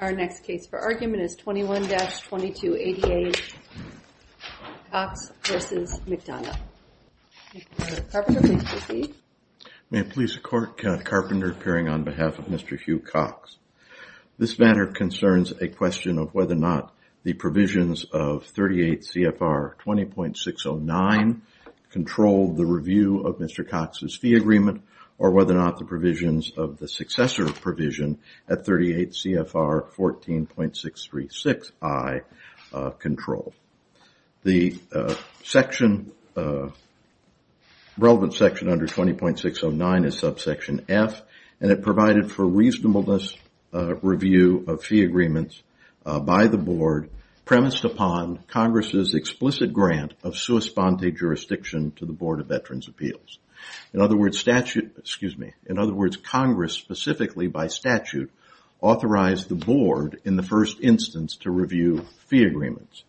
Our next case for argument is 21-2288 Cox v. McDonough. May it please the Court, Kenneth Carpenter appearing on behalf of Mr. Hugh Cox. This matter concerns a question of whether or not the provisions of 38 CFR 20.609 control the review of Mr. Cox's fee agreement or whether or not the provisions of the successor provision at 38 CFR 14.636i control. The relevant section under 20.609 is subsection F and it provided for reasonableness review of fee agreements by the Board premised upon Congress' explicit grant of sua sponte jurisdiction to the Board of Veterans' Appeals. In other words, Congress specifically by statute authorized the Board in the first instance to review fee agreements.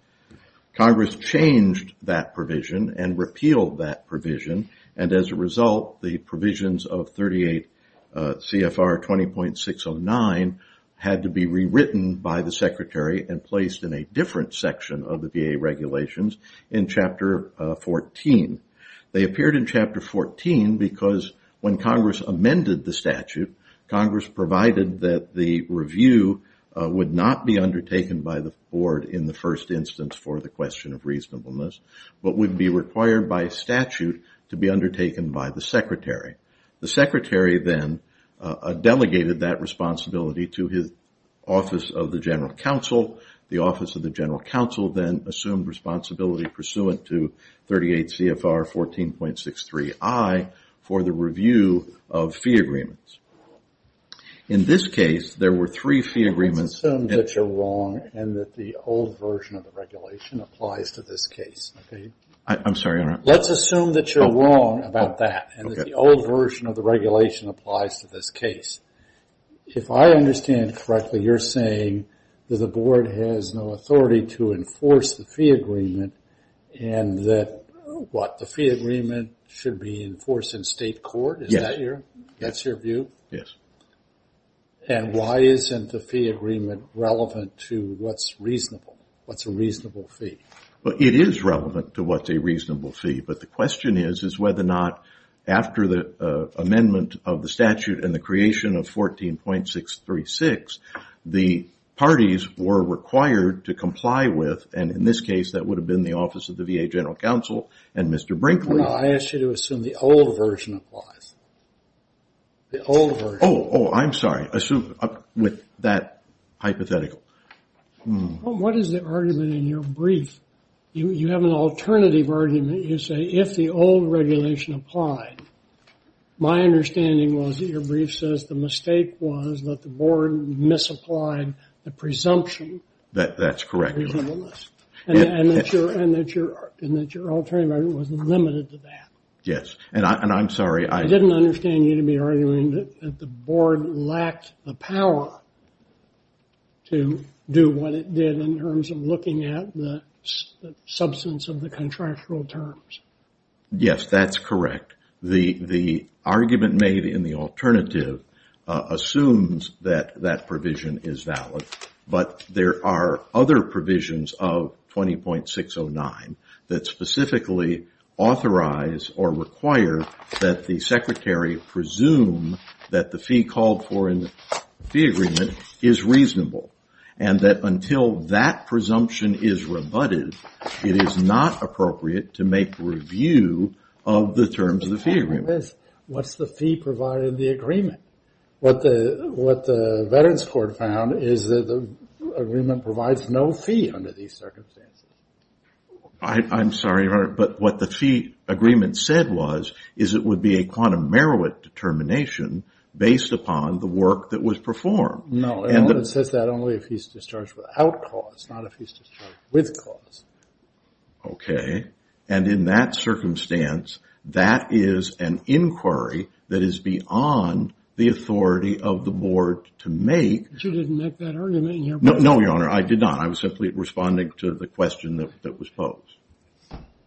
Congress changed that provision and repealed that provision and as a result the provisions of 38 CFR 20.609 had to be rewritten by the Secretary and placed in a different section of the VA regulations in Chapter 14. They appeared in Chapter 14 because when Congress amended the statute, Congress provided that the review would not be undertaken by the Board in the first instance for the question of reasonableness but would be required by statute to be undertaken by the Secretary. The Secretary then delegated that responsibility to his Office of the General Counsel. The Office of the General Counsel then assumed responsibility pursuant to 38 CFR 14.63i for the review of fee agreements. In this case, there were three fee agreements. Let's assume that you're wrong and that the old version of the regulation applies to this case. Let's assume that you're wrong about that and that the old version of the regulation applies to this case. If I understand correctly, you're saying that the Board has no authority to enforce the fee agreement and that what, the fee agreement should be enforced in state court? Yes. That's your view? Yes. And why isn't the fee agreement relevant to what's reasonable, what's a reasonable fee? Well, it is relevant to what's a reasonable fee, but the question is whether or not after the amendment of the statute and the creation of 14.636, the parties were required to comply with, and in this case, that would have been the Office of the VA General Counsel and Mr. Brinkley. I asked you to assume the old version applies. The old version. Oh, I'm sorry. With that hypothetical. What is the argument in your brief? You have an alternative argument. You say if the old regulation applied, my understanding was that your brief says the mistake was that the Board misapplied the presumption. That's correct. And that your alternative argument was limited to that. Yes, and I'm sorry. I didn't understand you to be arguing that the Board lacked the power to do what it did in terms of looking at the substance of the contractual terms. Yes, that's correct. The argument made in the alternative assumes that that provision is valid, but there are other provisions of 20.609 that specifically authorize or require that the Secretary presume that the fee called for in the fee agreement is reasonable, and that until that presumption is rebutted, it is not appropriate to make review of the terms of the fee agreement. What's the fee provided in the agreement? What the Veterans Court found is that the agreement provides no fee under these circumstances. I'm sorry, Your Honor, but what the fee agreement said was is it would be a quantum merit determination based upon the work that was performed. No, it says that only if he's discharged without cause, not if he's discharged with cause. Okay, and in that circumstance, that is an inquiry that is beyond the authority of the Board to make. No, Your Honor, I did not. I was simply responding to the question that was posed.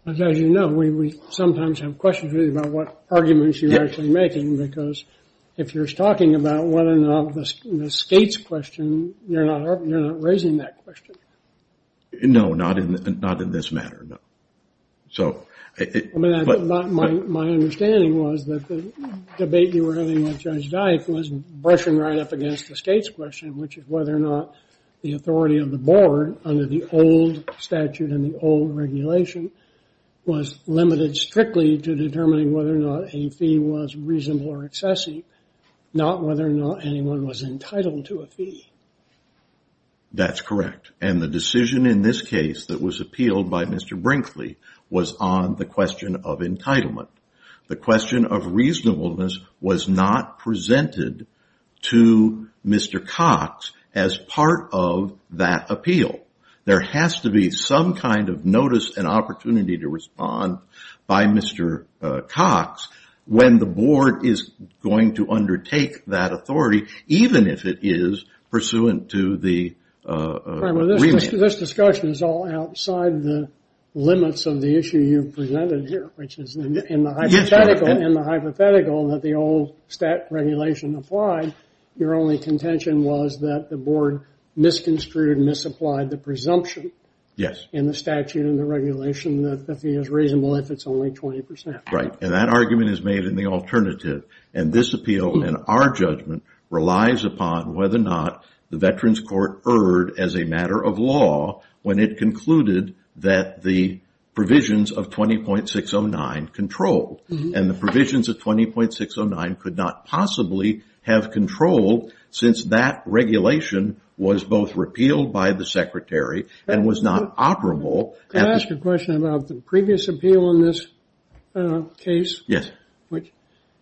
As you know, we sometimes have questions about what arguments you're actually making, because if you're talking about whether or not the state's question, you're not raising that question. No, not in this matter. My understanding was that the debate you were having with Judge Dyke was brushing right up against the state's question, which is whether or not the authority of the Board under the old statute and the old regulation was limited strictly to determining whether or not a fee was reasonable or excessive, not whether or not anyone was entitled to a fee. That's correct, and the decision in this case that was appealed by Mr. Brinkley was on the question of entitlement. The question of reasonableness was not presented to Mr. Cox as part of that appeal. There has to be some kind of notice and opportunity to respond by Mr. Cox when the Board is going to undertake that authority, even if it is pursuant to the agreement. This discussion is all outside the limits of the issue you've presented here, which is in the hypothetical that the old regulation applied, your only contention was that the Board misconstrued and misapplied the presumption in the statute and the regulation that the fee is reasonable if it's only 20%. Right, and that argument is made in the alternative, and this appeal, in our judgment, relies upon whether or not the Veterans Court erred as a matter of law when it concluded that the provisions of 20.609 controlled, and the provisions of 20.609 could not possibly have controlled since that regulation was both repealed by the Secretary and was not operable. Can I ask a question about the previous appeal in this case? Yes.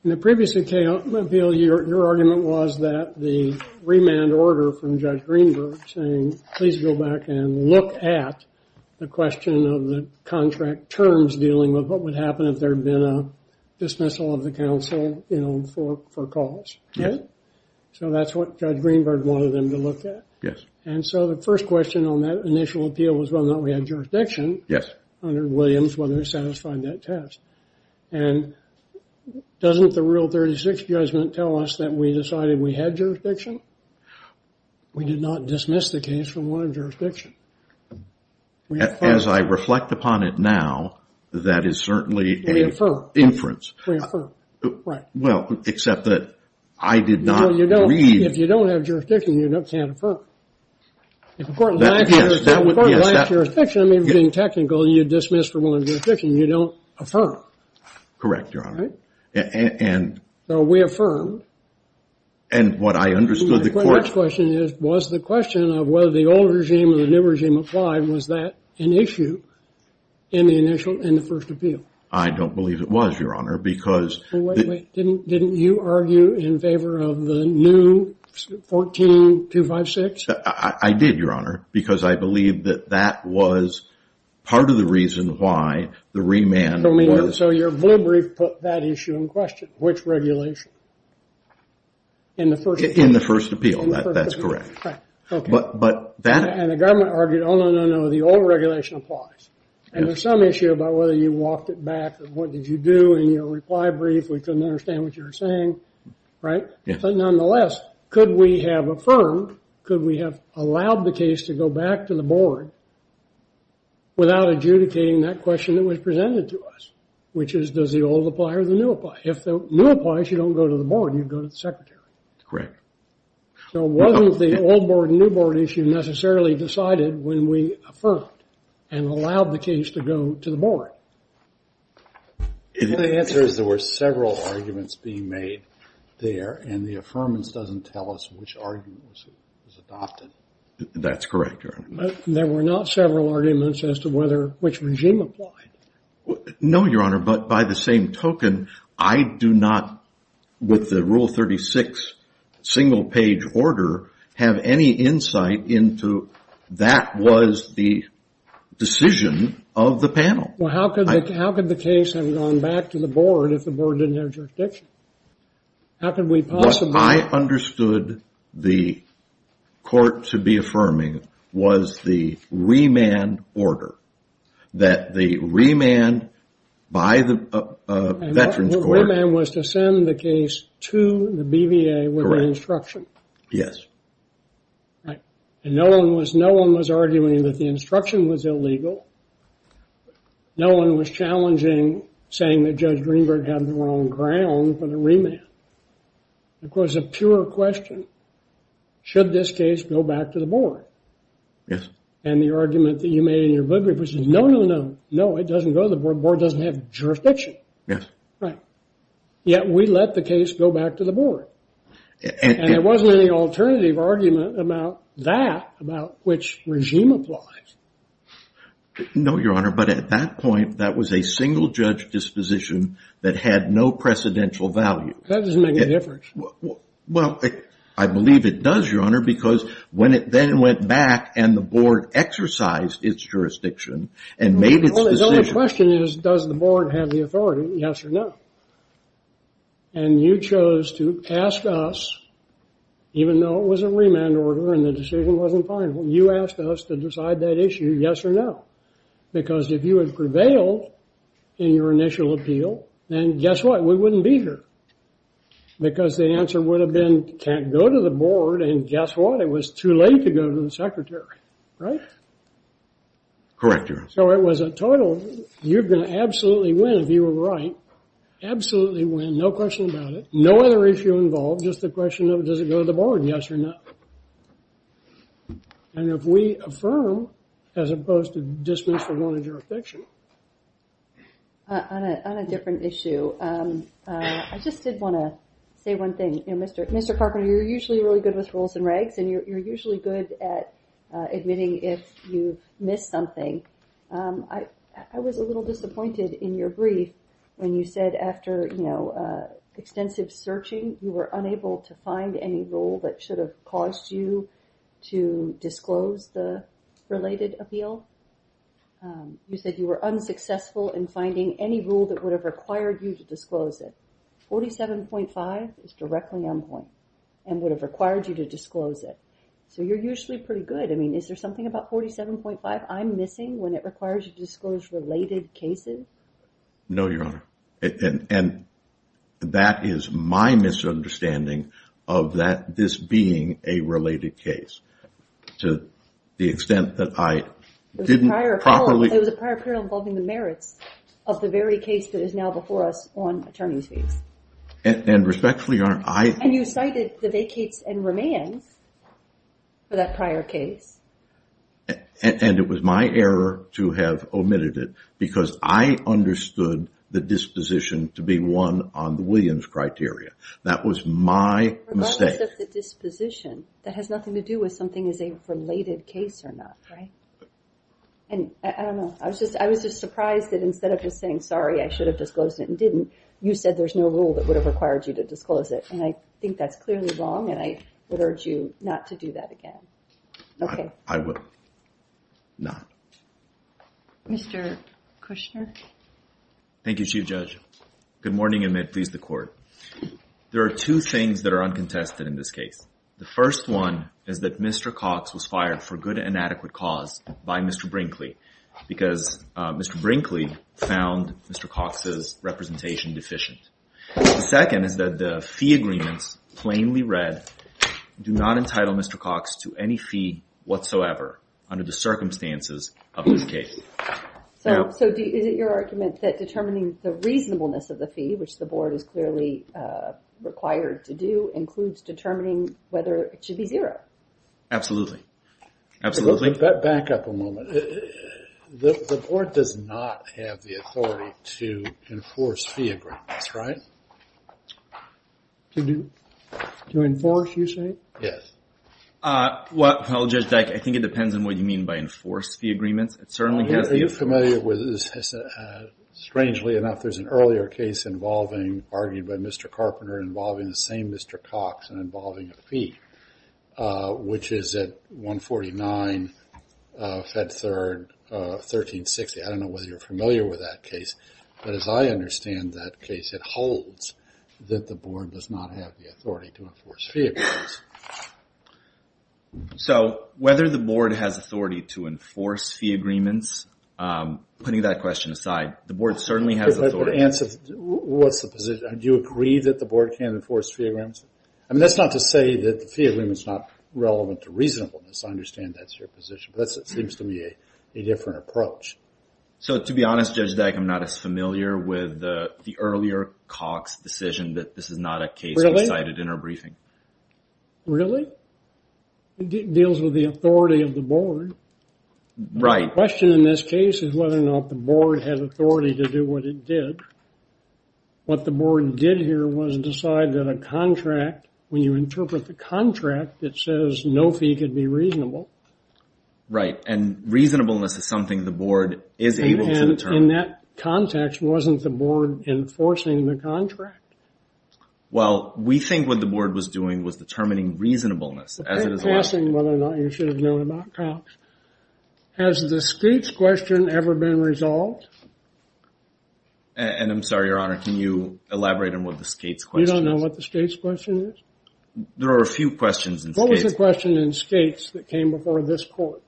In the previous appeal, your argument was that the remand order from Judge Greenberg saying please go back and look at the question of the contract terms dealing with what would happen if there had been a dismissal of the counsel for cause. Yes. So that's what Judge Greenberg wanted them to look at. Yes. And so the first question on that initial appeal was whether or not we had jurisdiction under Williams, whether we satisfied that test. And doesn't the Rule 36 judgment tell us that we decided we had jurisdiction? We did not dismiss the case for wanted jurisdiction. As I reflect upon it now, that is certainly an inference. We affirm. We affirm. Right. Well, except that I did not read. No, you don't. If you don't have jurisdiction, you can't affirm. If a court lacks jurisdiction, I mean, being technical, you dismiss for wanted jurisdiction. You don't affirm. Correct, Your Honor. Right? So we affirmed. And what I understood the court. My next question is was the question of whether the old regime or the new regime applied, was that an issue in the initial, in the first appeal? I don't believe it was, Your Honor, because. Wait, wait, wait. Didn't you argue in favor of the new 14256? I did, Your Honor, because I believe that that was part of the reason why the remand was. So your blue brief put that issue in question, which regulation? In the first appeal. In the first appeal. That's correct. But that. And the government argued, oh, no, no, no, the old regulation applies. And there's some issue about whether you walked it back or what did you do in your reply brief. We couldn't understand what you were saying. Right? But nonetheless, could we have affirmed, could we have allowed the case to go back to the board without adjudicating that question that was presented to us, which is does the old apply or the new apply? If the new applies, you don't go to the board. You go to the secretary. Correct. So it wasn't the old board and new board issue necessarily decided when we affirmed and allowed the case to go to the board. My answer is there were several arguments being made there, and the affirmance doesn't tell us which argument was adopted. That's correct, Your Honor. There were not several arguments as to which regime applied. No, Your Honor, but by the same token, I do not with the Rule 36 single page order have any insight into that was the decision of the panel. Well, how could the case have gone back to the board if the board didn't have jurisdiction? How could we possibly – What I understood the court to be affirming was the remand order, that the remand by the Veterans Court – And the remand was to send the case to the BVA with the instruction. Correct. Yes. Right. And no one was arguing that the instruction was illegal. No one was challenging saying that Judge Greenberg had the wrong ground for the remand. It was a pure question. Should this case go back to the board? Yes. And the argument that you made in your book was no, no, no. No, it doesn't go to the board. The board doesn't have jurisdiction. Yes. Right. Yet we let the case go back to the board. And there wasn't any alternative argument about that, about which regime applies. No, Your Honor. But at that point, that was a single-judge disposition that had no precedential value. That doesn't make any difference. Well, I believe it does, Your Honor, because when it then went back and the board exercised its jurisdiction and made its decision – Well, the only question is, does the board have the authority, yes or no? And you chose to ask us, even though it was a remand order and the decision wasn't final, you asked us to decide that issue, yes or no. Because if you had prevailed in your initial appeal, then guess what? We wouldn't be here. Because the answer would have been, can't go to the board, and guess what? It was too late to go to the secretary. Right? Correct, Your Honor. So it was a total, you're going to absolutely win if you were right. Absolutely win, no question about it. No other issue involved, just the question of, does it go to the board, yes or no? And if we affirm, as opposed to dismiss the one in jurisdiction. On a different issue, I just did want to say one thing. Mr. Carpenter, you're usually really good with rules and regs, and you're I was a little disappointed in your brief when you said after, you know, extensive searching, you were unable to find any rule that should have caused you to disclose the related appeal. You said you were unsuccessful in finding any rule that would have required you to disclose it. 47.5 is directly on point and would have required you to disclose it. So you're usually pretty good. I mean, is there something about 47.5 I'm missing when it requires you to disclose related cases? No, Your Honor. And that is my misunderstanding of this being a related case. To the extent that I didn't properly There was a prior appeal involving the merits of the very case that is now before us on attorney's fees. And respectfully, Your Honor, I And you cited the vacates and remands for that prior case. And it was my error to have omitted it because I understood the disposition to be one on the Williams criteria. That was my mistake. The disposition that has nothing to do with something is a related case or not. Right. And I was just surprised that instead of just saying, sorry, I should have disclosed it and didn't, you said there's no rule that would have required you to disclose it. And I think that's clearly wrong, and I would urge you not to do that again. Okay. I would not. Mr. Kushner. Thank you, Chief Judge. Good morning, and may it please the Court. There are two things that are uncontested in this case. The first one is that Mr. Cox was fired for good and adequate cause by Mr. Brinkley because Mr. Brinkley found Mr. Cox's representation deficient. The second is that the fee agreements plainly read do not entitle Mr. Cox to any fee whatsoever under the circumstances of this case. So is it your argument that determining the reasonableness of the fee, which the Board is clearly required to do, includes determining whether it should be zero? Absolutely. Back up a moment. The Board does not have the authority to enforce fee agreements, right? To enforce, you say? Yes. Well, Judge Dyck, I think it depends on what you mean by enforced fee agreements. Are you familiar with this? Strangely enough, there's an earlier case involving, argued by Mr. Carpenter involving the same Mr. Cox and involving a fee, which is at 149 Fed Third 1360. I don't know whether you're familiar with that case, but as I understand that case, it holds that the Board does not have the authority to enforce fee agreements. So whether the Board has authority to enforce fee agreements, putting that question aside, the Board certainly has authority. What's the position? Do you agree that the Board can enforce fee agreements? I mean, that's not to say that the fee agreement is not relevant to reasonableness. I understand that's your position, but that seems to me a different approach. So to be honest, Judge Dyck, I'm not as familiar with the earlier Cox decision that this is not a case we cited in our briefing. Really? It deals with the authority of the Board. Right. The question in this case is whether or not the Board had authority to do what it did. What the Board did here was decide that a contract, when you interpret the contract, it says no fee could be reasonable. Right. And reasonableness is something the Board is able to determine. And in that context, wasn't the Board enforcing the contract? Well, we think what the Board was doing was determining reasonableness, as it is a law. In passing, whether or not you should have known about Cox. Has the Skates question ever been resolved? And I'm sorry, Your Honor, can you elaborate on what the Skates question is? You don't know what the Skates question is? There are a few questions in Skates. What was the question in Skates that came before this court?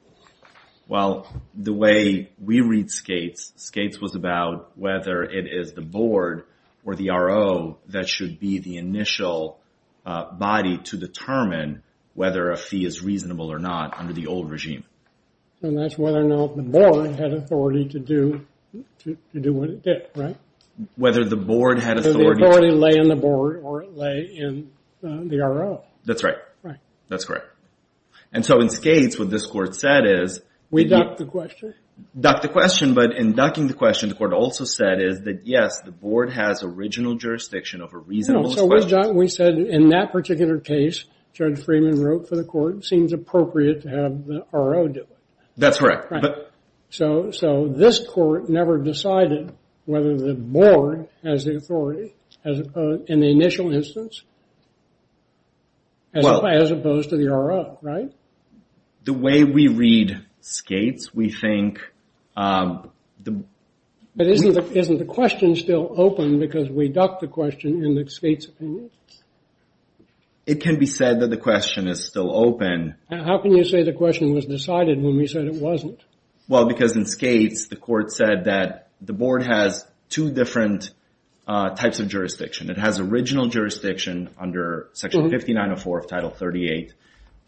Well, the way we read Skates, Skates was about whether it is the Board or the RO that should be the initial body to determine whether a fee is reasonable or not under the old regime. And that's whether or not the Board had authority to do what it did, right? Whether the Board had authority to do what it did. That's right. That's correct. And so in Skates, what this court said is... We ducked the question? Ducked the question, but in ducking the question, the court also said is that, yes, the Board has original jurisdiction over reasonableness questions. So we said in that particular case, Judge Freeman wrote for the court, it seems appropriate to have the RO do it. That's correct. So this court never decided whether the Board has the authority in the initial instance as opposed to the RO, right? The way we read Skates, we think... But isn't the question still open because we ducked the question in Skates' opinion? It can be said that the question is still open. How can you say the question was decided when we said it wasn't? Well, because in Skates, the court said that the Board has two different types of jurisdiction. It has original jurisdiction under Section 5904 of Title 38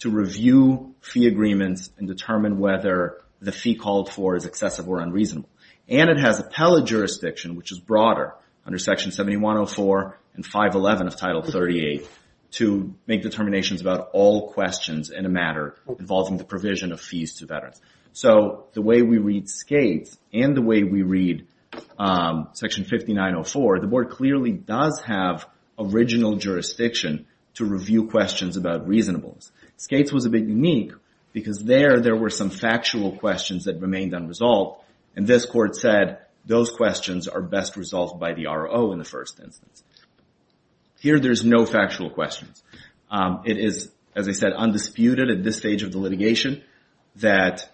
to review fee agreements and determine whether the fee called for is excessive or unreasonable. And it has appellate jurisdiction, which is broader, under Section 7104 and 511 of Title 38 to make determinations about all questions in a matter involving the provision of fees to veterans. So the way we read Skates and the way we read Section 5904, the Board clearly does have original jurisdiction to review questions about reasonableness. Skates was a bit unique because there, there were some factual questions that remained unresolved. And this court said those questions are best resolved by the RO in the first instance. Here there's no factual questions. It is, as I said, undisputed at this stage of the litigation that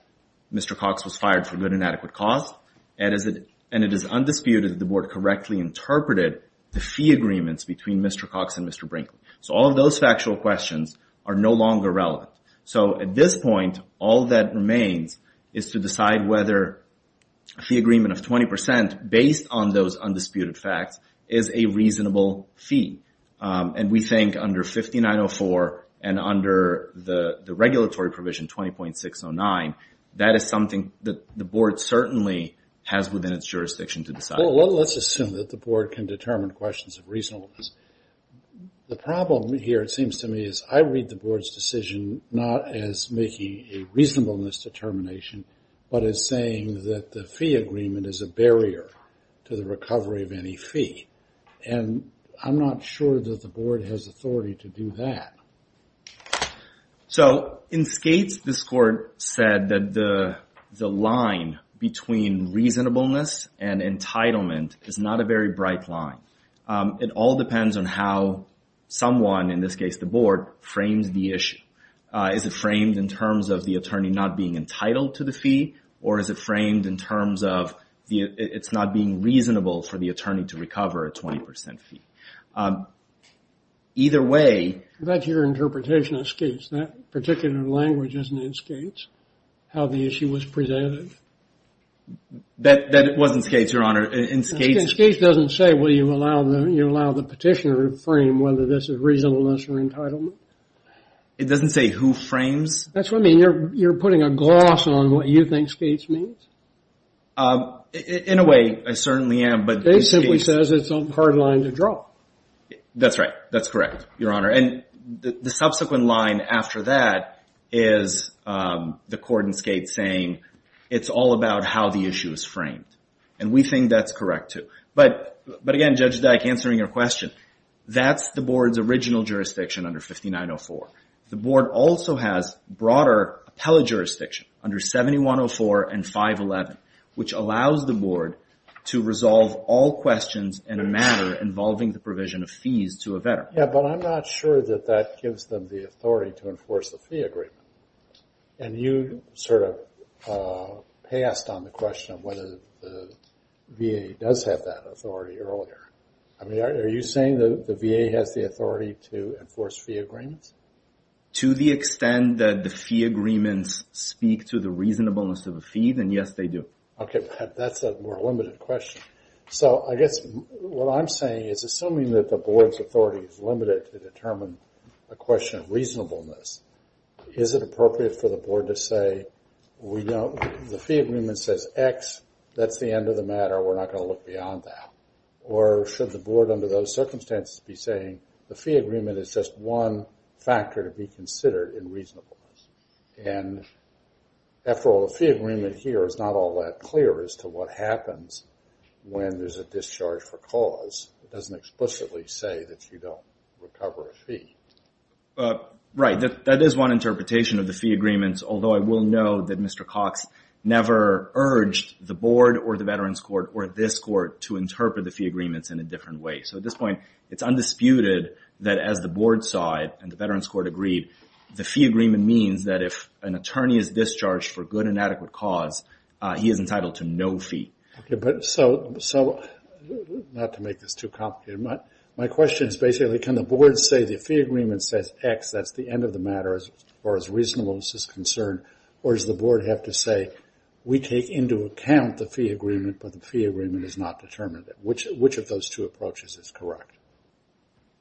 Mr. Cox was fired for good and adequate cause. And it is undisputed that the Board correctly interpreted the fee agreements between Mr. Cox and Mr. Brinkley. So all of those factual questions are no longer relevant. So at this point, all that remains is to decide whether a fee agreement of 20% based on those undisputed facts is a reasonable fee. And we think under 5904 and under the regulatory provision 20.609, that is something that the Board certainly has within its jurisdiction to decide. Well, let's assume that the Board can determine questions of reasonableness. The problem here, it seems to me, is I read the Board's decision not as making a reasonableness determination, but as saying that the fee agreement is a barrier to the recovery of any fee. And I'm not sure that the Board has authority to do that. So in Skates, this Court said that the line between reasonableness and entitlement is not a very bright line. It all depends on how someone, in this case the Board, frames the issue. Is it framed in terms of the attorney not being entitled to the fee, or is it framed in terms of it's not being reasonable for the attorney to recover a 20% fee? Either way... That's your interpretation of Skates. That particular language isn't in Skates, how the issue was presented. That wasn't Skates, Your Honor. Skates doesn't say, well, you allow the petitioner to frame whether this is reasonableness or entitlement. It doesn't say who frames? That's what I mean. You're putting a gloss on what you think Skates means? In a way, I certainly am. Skates simply says it's a hard line to draw. That's right. That's correct, Your Honor. And the subsequent line after that is the court in Skates saying it's all about how the issue is framed, and we think that's correct too. But again, Judge Dyck, answering your question, that's the Board's original jurisdiction under 5904. The Board also has broader appellate jurisdiction under 7104 and 511, which allows the Board to resolve all questions in a manner involving the provision of fees to a veteran. Yeah, but I'm not sure that that gives them the authority to enforce the fee agreement. And you sort of passed on the question of whether the VA does have that authority earlier. Are you saying that the VA has the authority to enforce fee agreements? To the extent that the fee agreements speak to the reasonableness of a fee, then yes, they do. Okay. That's a more limited question. So I guess what I'm saying is, assuming that the Board's authority is limited to determine a question of reasonableness, is it appropriate for the Board to say, the fee agreement says X, that's the end of the matter, we're not going to look beyond that? Or should the Board under those circumstances be saying, the fee agreement is just one factor to be considered in reasonableness? And after all, the fee agreement here is not all that clear as to what happens when there's a discharge for cause. It doesn't explicitly say that you don't recover a fee. Right. That is one interpretation of the fee agreements, although I will note that Mr. Cox never urged the Board or the Veterans Court or this Court to interpret the fee agreements in a different way. So at this point, it's undisputed that as the Board side and the Veterans Court agreed, the fee agreement means that if an attorney is discharged for good and adequate cause, he is entitled to no fee. Okay. But so, not to make this too complicated, my question is basically can the Board say the fee agreement says X, that's the end of the matter as far as reasonableness is concerned, or does the Board have to say we take into account the fee agreement, but the fee agreement is not determined? Which of those two approaches is correct?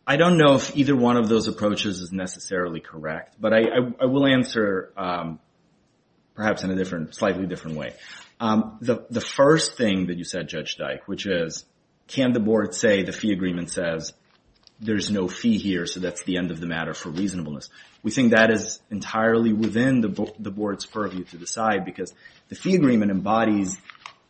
I don't know if either one of those approaches is necessarily correct, but I will answer perhaps in a slightly different way. The first thing that you said, Judge Dyke, which is can the Board say the fee agreement says there's no fee here, so that's the end of the matter for reasonableness. We think that is entirely within the Board's purview to decide, because the fee agreement embodies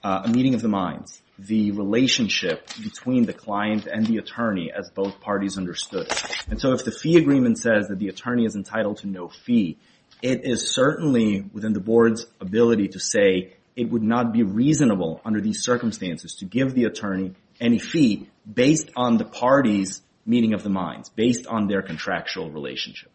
a meeting of the minds, the relationship between the client and the attorney as both parties understood it. And so if the fee agreement says that the attorney is entitled to no fee, it is certainly within the Board's ability to say it would not be reasonable under these circumstances to give the attorney any fee based on the contractual relationship.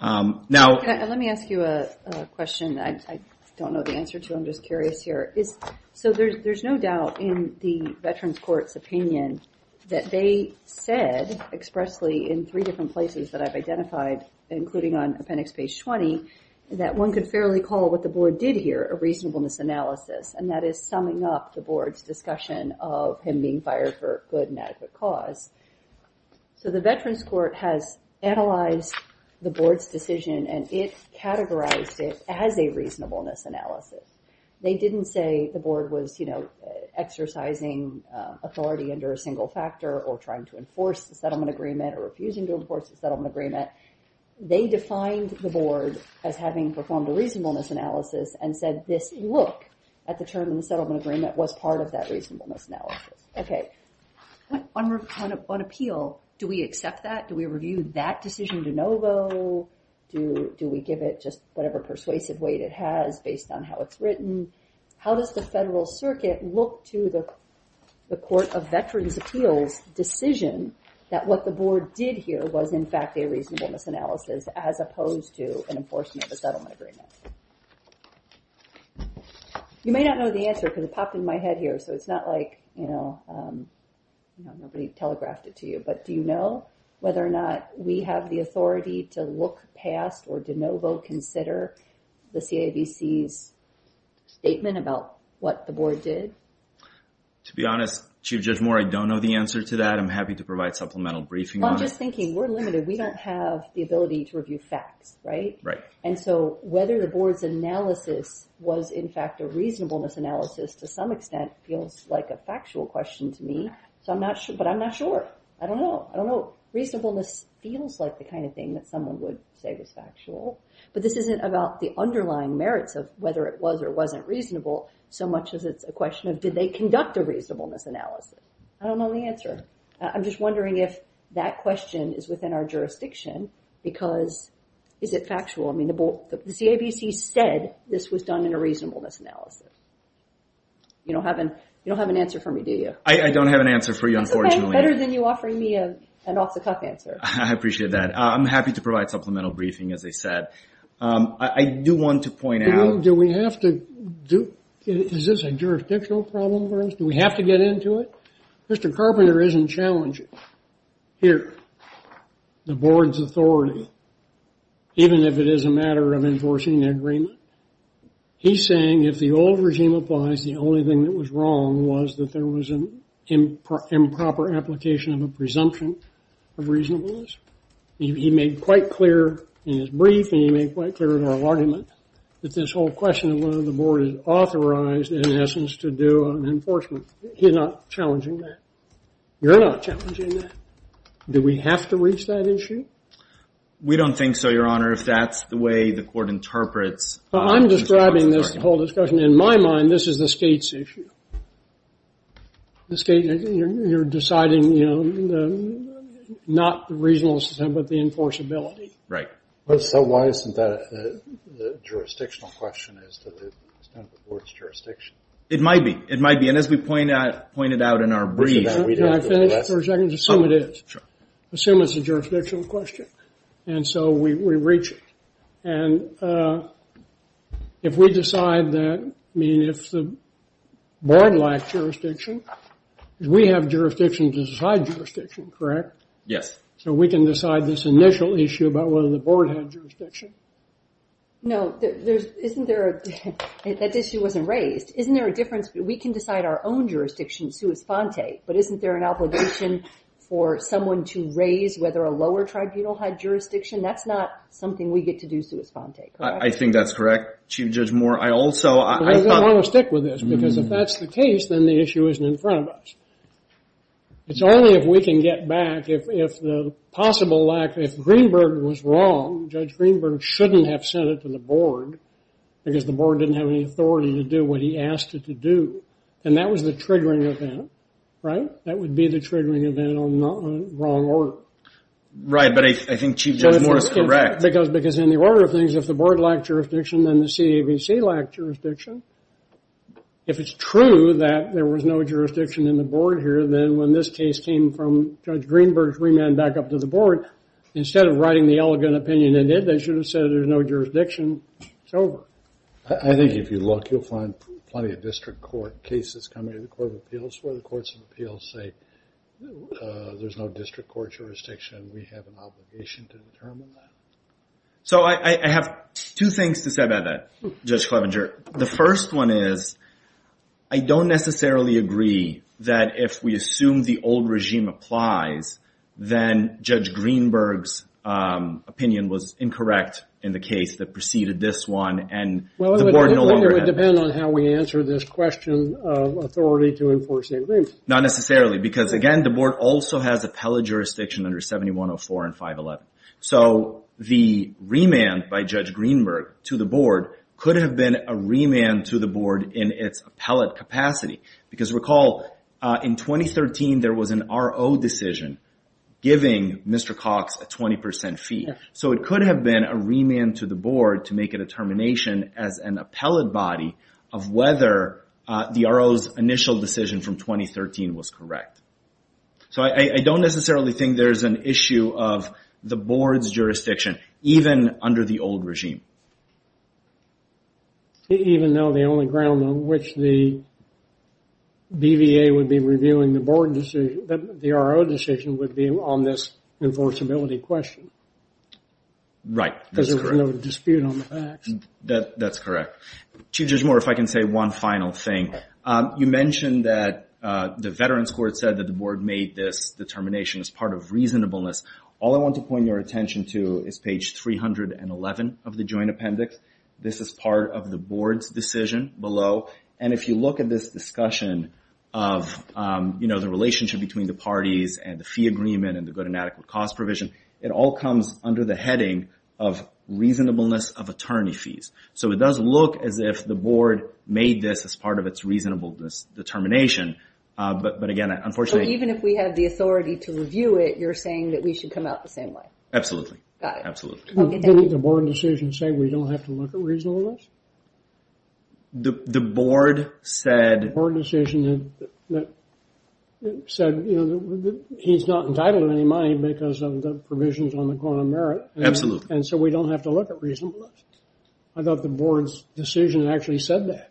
Let me ask you a question that I don't know the answer to, I'm just curious here. So there's no doubt in the Veterans Court's opinion that they said expressly in three different places that I've identified, including on appendix page 20, that one could fairly call what the Board did here a reasonableness analysis, and that is summing up the Board's discussion of him being fired for good and inadequate cause. So the Veterans Court has analyzed the Board's decision and it categorized it as a reasonableness analysis. They didn't say the Board was exercising authority under a single factor or trying to enforce the settlement agreement or refusing to enforce the settlement agreement. They defined the Board as having performed a reasonableness analysis and said this look at the term in the settlement agreement was part of that reasonableness analysis. Okay. On appeal, do we accept that? Do we review that decision de novo? Do we give it just whatever persuasive weight it has based on how it's written? How does the Federal Circuit look to the Court of Veterans Appeals' decision that what the Board did here was in fact a reasonableness analysis as opposed to an enforcement of a settlement agreement? You may not know the answer because it popped in my head here, so it's not like nobody telegraphed it to you. But do you know whether or not we have the authority to look past or de novo consider the CAVC's statement about what the Board did? To be honest, Chief Judge Moore, I don't know the answer to that. I'm happy to provide supplemental briefing on it. I'm just thinking we're limited. We don't have the ability to review facts, right? And so whether the Board's analysis was in fact a reasonableness analysis to some extent feels like a factual question to me. But I'm not sure. I don't know. I don't know. Reasonableness feels like the kind of thing that someone would say was factual. But this isn't about the underlying merits of whether it was or wasn't reasonable so much as it's a question of did they conduct a reasonableness analysis. I don't know the answer. I'm just wondering if that question is within our jurisdiction because is it factual? I mean, the CAVC said this was done in a reasonableness analysis. You don't have an answer for me, do you? I don't have an answer for you, unfortunately. That's better than you offering me an off-the-cuff answer. I appreciate that. I'm happy to provide supplemental briefing, as I said. I do want to point out. Do we have to do it? Is this a jurisdictional problem for us? Do we have to get into it? Mr. Carpenter isn't challenging. Here, the board's authority, even if it is a matter of enforcing an agreement. He's saying if the old regime applies, the only thing that was wrong was that there was an improper application of a presumption of reasonableness. He made quite clear in his brief and he made quite clear in our argument that this whole question of whether the board is authorized, in essence, to do an enforcement, he's not challenging that. You're not challenging that. Do we have to reach that issue? We don't think so, Your Honor, if that's the way the court interprets. I'm describing this whole discussion. In my mind, this is the state's issue. You're deciding not the reasonableness but the enforceability. Right. So why isn't that a jurisdictional question as to the extent of the board's jurisdiction? It might be. It might be. And as we pointed out in our brief. Can I finish for a second? Assume it is. Sure. Assume it's a jurisdictional question. And so we reach it. And if we decide that, I mean, if the board lacks jurisdiction, we have jurisdiction to decide jurisdiction, correct? Yes. So we can decide this initial issue about whether the board had jurisdiction. No, that issue wasn't raised. Isn't there a difference? We can decide our own jurisdiction sui sponte, but isn't there an obligation for someone to raise whether a lower tribunal had jurisdiction? That's not something we get to do sui sponte, correct? I think that's correct, Chief Judge Moore. I also thought. I don't want to stick with this because if that's the case, then the issue isn't in front of us. It's only if we can get back if the possible lack. Because the board didn't have any authority to do what he asked it to do. And that was the triggering event, right? That would be the triggering event on the wrong order. Right, but I think Chief Judge Moore is correct. Because in the order of things, if the board lacked jurisdiction, then the CAVC lacked jurisdiction. If it's true that there was no jurisdiction in the board here, then when this case came from Judge Greenberg's remand back up to the board, instead of writing the elegant opinion in it, they should have said there's no jurisdiction. It's over. I think if you look, you'll find plenty of district court cases coming to the Court of Appeals where the courts of appeals say there's no district court jurisdiction. We have an obligation to determine that. So I have two things to say about that, Judge Clevenger. The first one is I don't necessarily agree that if we assume the old regime applies, then Judge Greenberg's opinion was incorrect in the case that preceded this one, and the board no longer had it. Well, it would depend on how we answer this question of authority to enforce the agreement. Not necessarily, because, again, the board also has appellate jurisdiction under 7104 and 511. So the remand by Judge Greenberg to the board could have been a remand to the board in its appellate capacity. Because recall, in 2013, there was an RO decision giving Mr. Cox a 20% fee. So it could have been a remand to the board to make a determination as an appellate body of whether the RO's initial decision from 2013 was correct. So I don't necessarily think there's an issue of the board's jurisdiction, even under the old regime. Even though the only ground on which the BVA would be reviewing the board decision, the RO decision would be on this enforceability question. Right. Because there's no dispute on the facts. That's correct. Chief Judge Moore, if I can say one final thing. You mentioned that the Veterans Court said that the board made this determination as part of reasonableness. All I want to point your attention to is page 311 of the joint appendix. This is part of the board's decision below. And if you look at this discussion of, you know, the relationship between the parties and the fee agreement and the good and adequate cost provision, it all comes under the heading of reasonableness of attorney fees. So it does look as if the board made this as part of its reasonableness determination. But, again, unfortunately— Absolutely. Absolutely. Didn't the board decision say we don't have to look at reasonableness? The board said— The board decision said, you know, he's not entitled to any money because of the provisions on the quantum merit. Absolutely. And so we don't have to look at reasonableness. I thought the board's decision actually said that.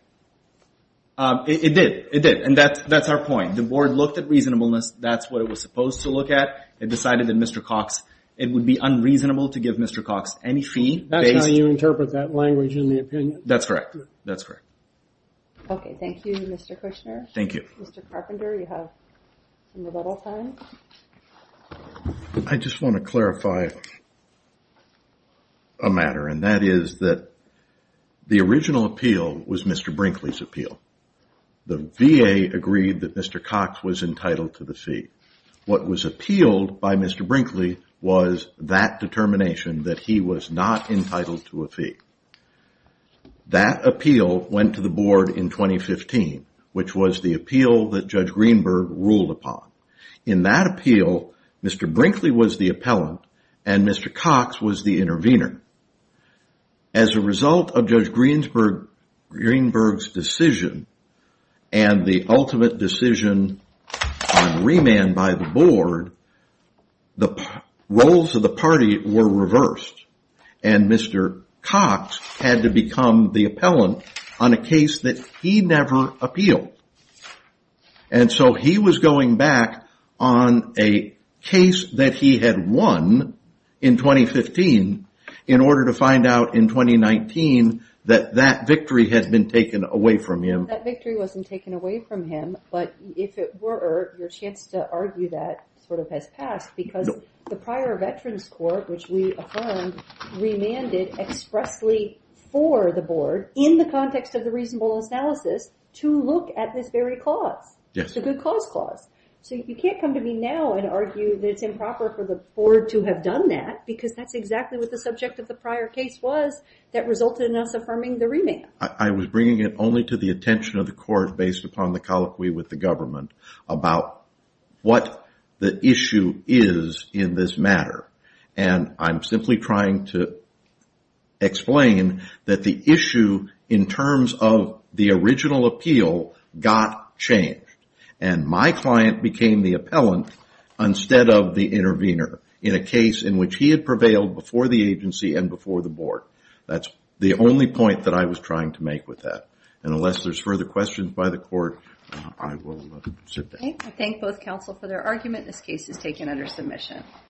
It did. It did. And that's our point. The board looked at reasonableness. That's what it was supposed to look at. It decided that Mr. Cox—it would be unreasonable to give Mr. Cox any fee. That's how you interpret that language in the opinion. That's correct. That's correct. Okay. Thank you, Mr. Kushner. Thank you. Mr. Carpenter, you have some rebuttal time. I just want to clarify a matter, and that is that the original appeal was Mr. Brinkley's appeal. The VA agreed that Mr. Cox was entitled to the fee. What was appealed by Mr. Brinkley was that determination that he was not entitled to a fee. That appeal went to the board in 2015, which was the appeal that Judge Greenberg ruled upon. In that appeal, Mr. Brinkley was the appellant, and Mr. Cox was the intervener. As a result of Judge Greenberg's decision and the ultimate decision on remand by the board, the roles of the party were reversed, and Mr. Cox had to become the appellant on a case that he never appealed. And so he was going back on a case that he had won in 2015 in order to find out in 2019 that that victory had been taken away from him. That victory wasn't taken away from him, but if it were, your chance to argue that sort of has passed because the prior Veterans Court, which we affirmed, remanded expressly for the board in the context of the reasonable analysis to look at this very clause, the good cause clause. So you can't come to me now and argue that it's improper for the board to have done that because that's exactly what the subject of the prior case was that resulted in us affirming the remand. I was bringing it only to the attention of the court based upon the colloquy with the government about what the issue is in this matter, and I'm simply trying to explain that the issue in terms of the original appeal got changed, and my client became the appellant instead of the intervener in a case in which he had prevailed before the agency and before the board. That's the only point that I was trying to make with that, and unless there's further questions by the court, I will sit there. Okay. I thank both counsel for their argument. This case is taken under submission.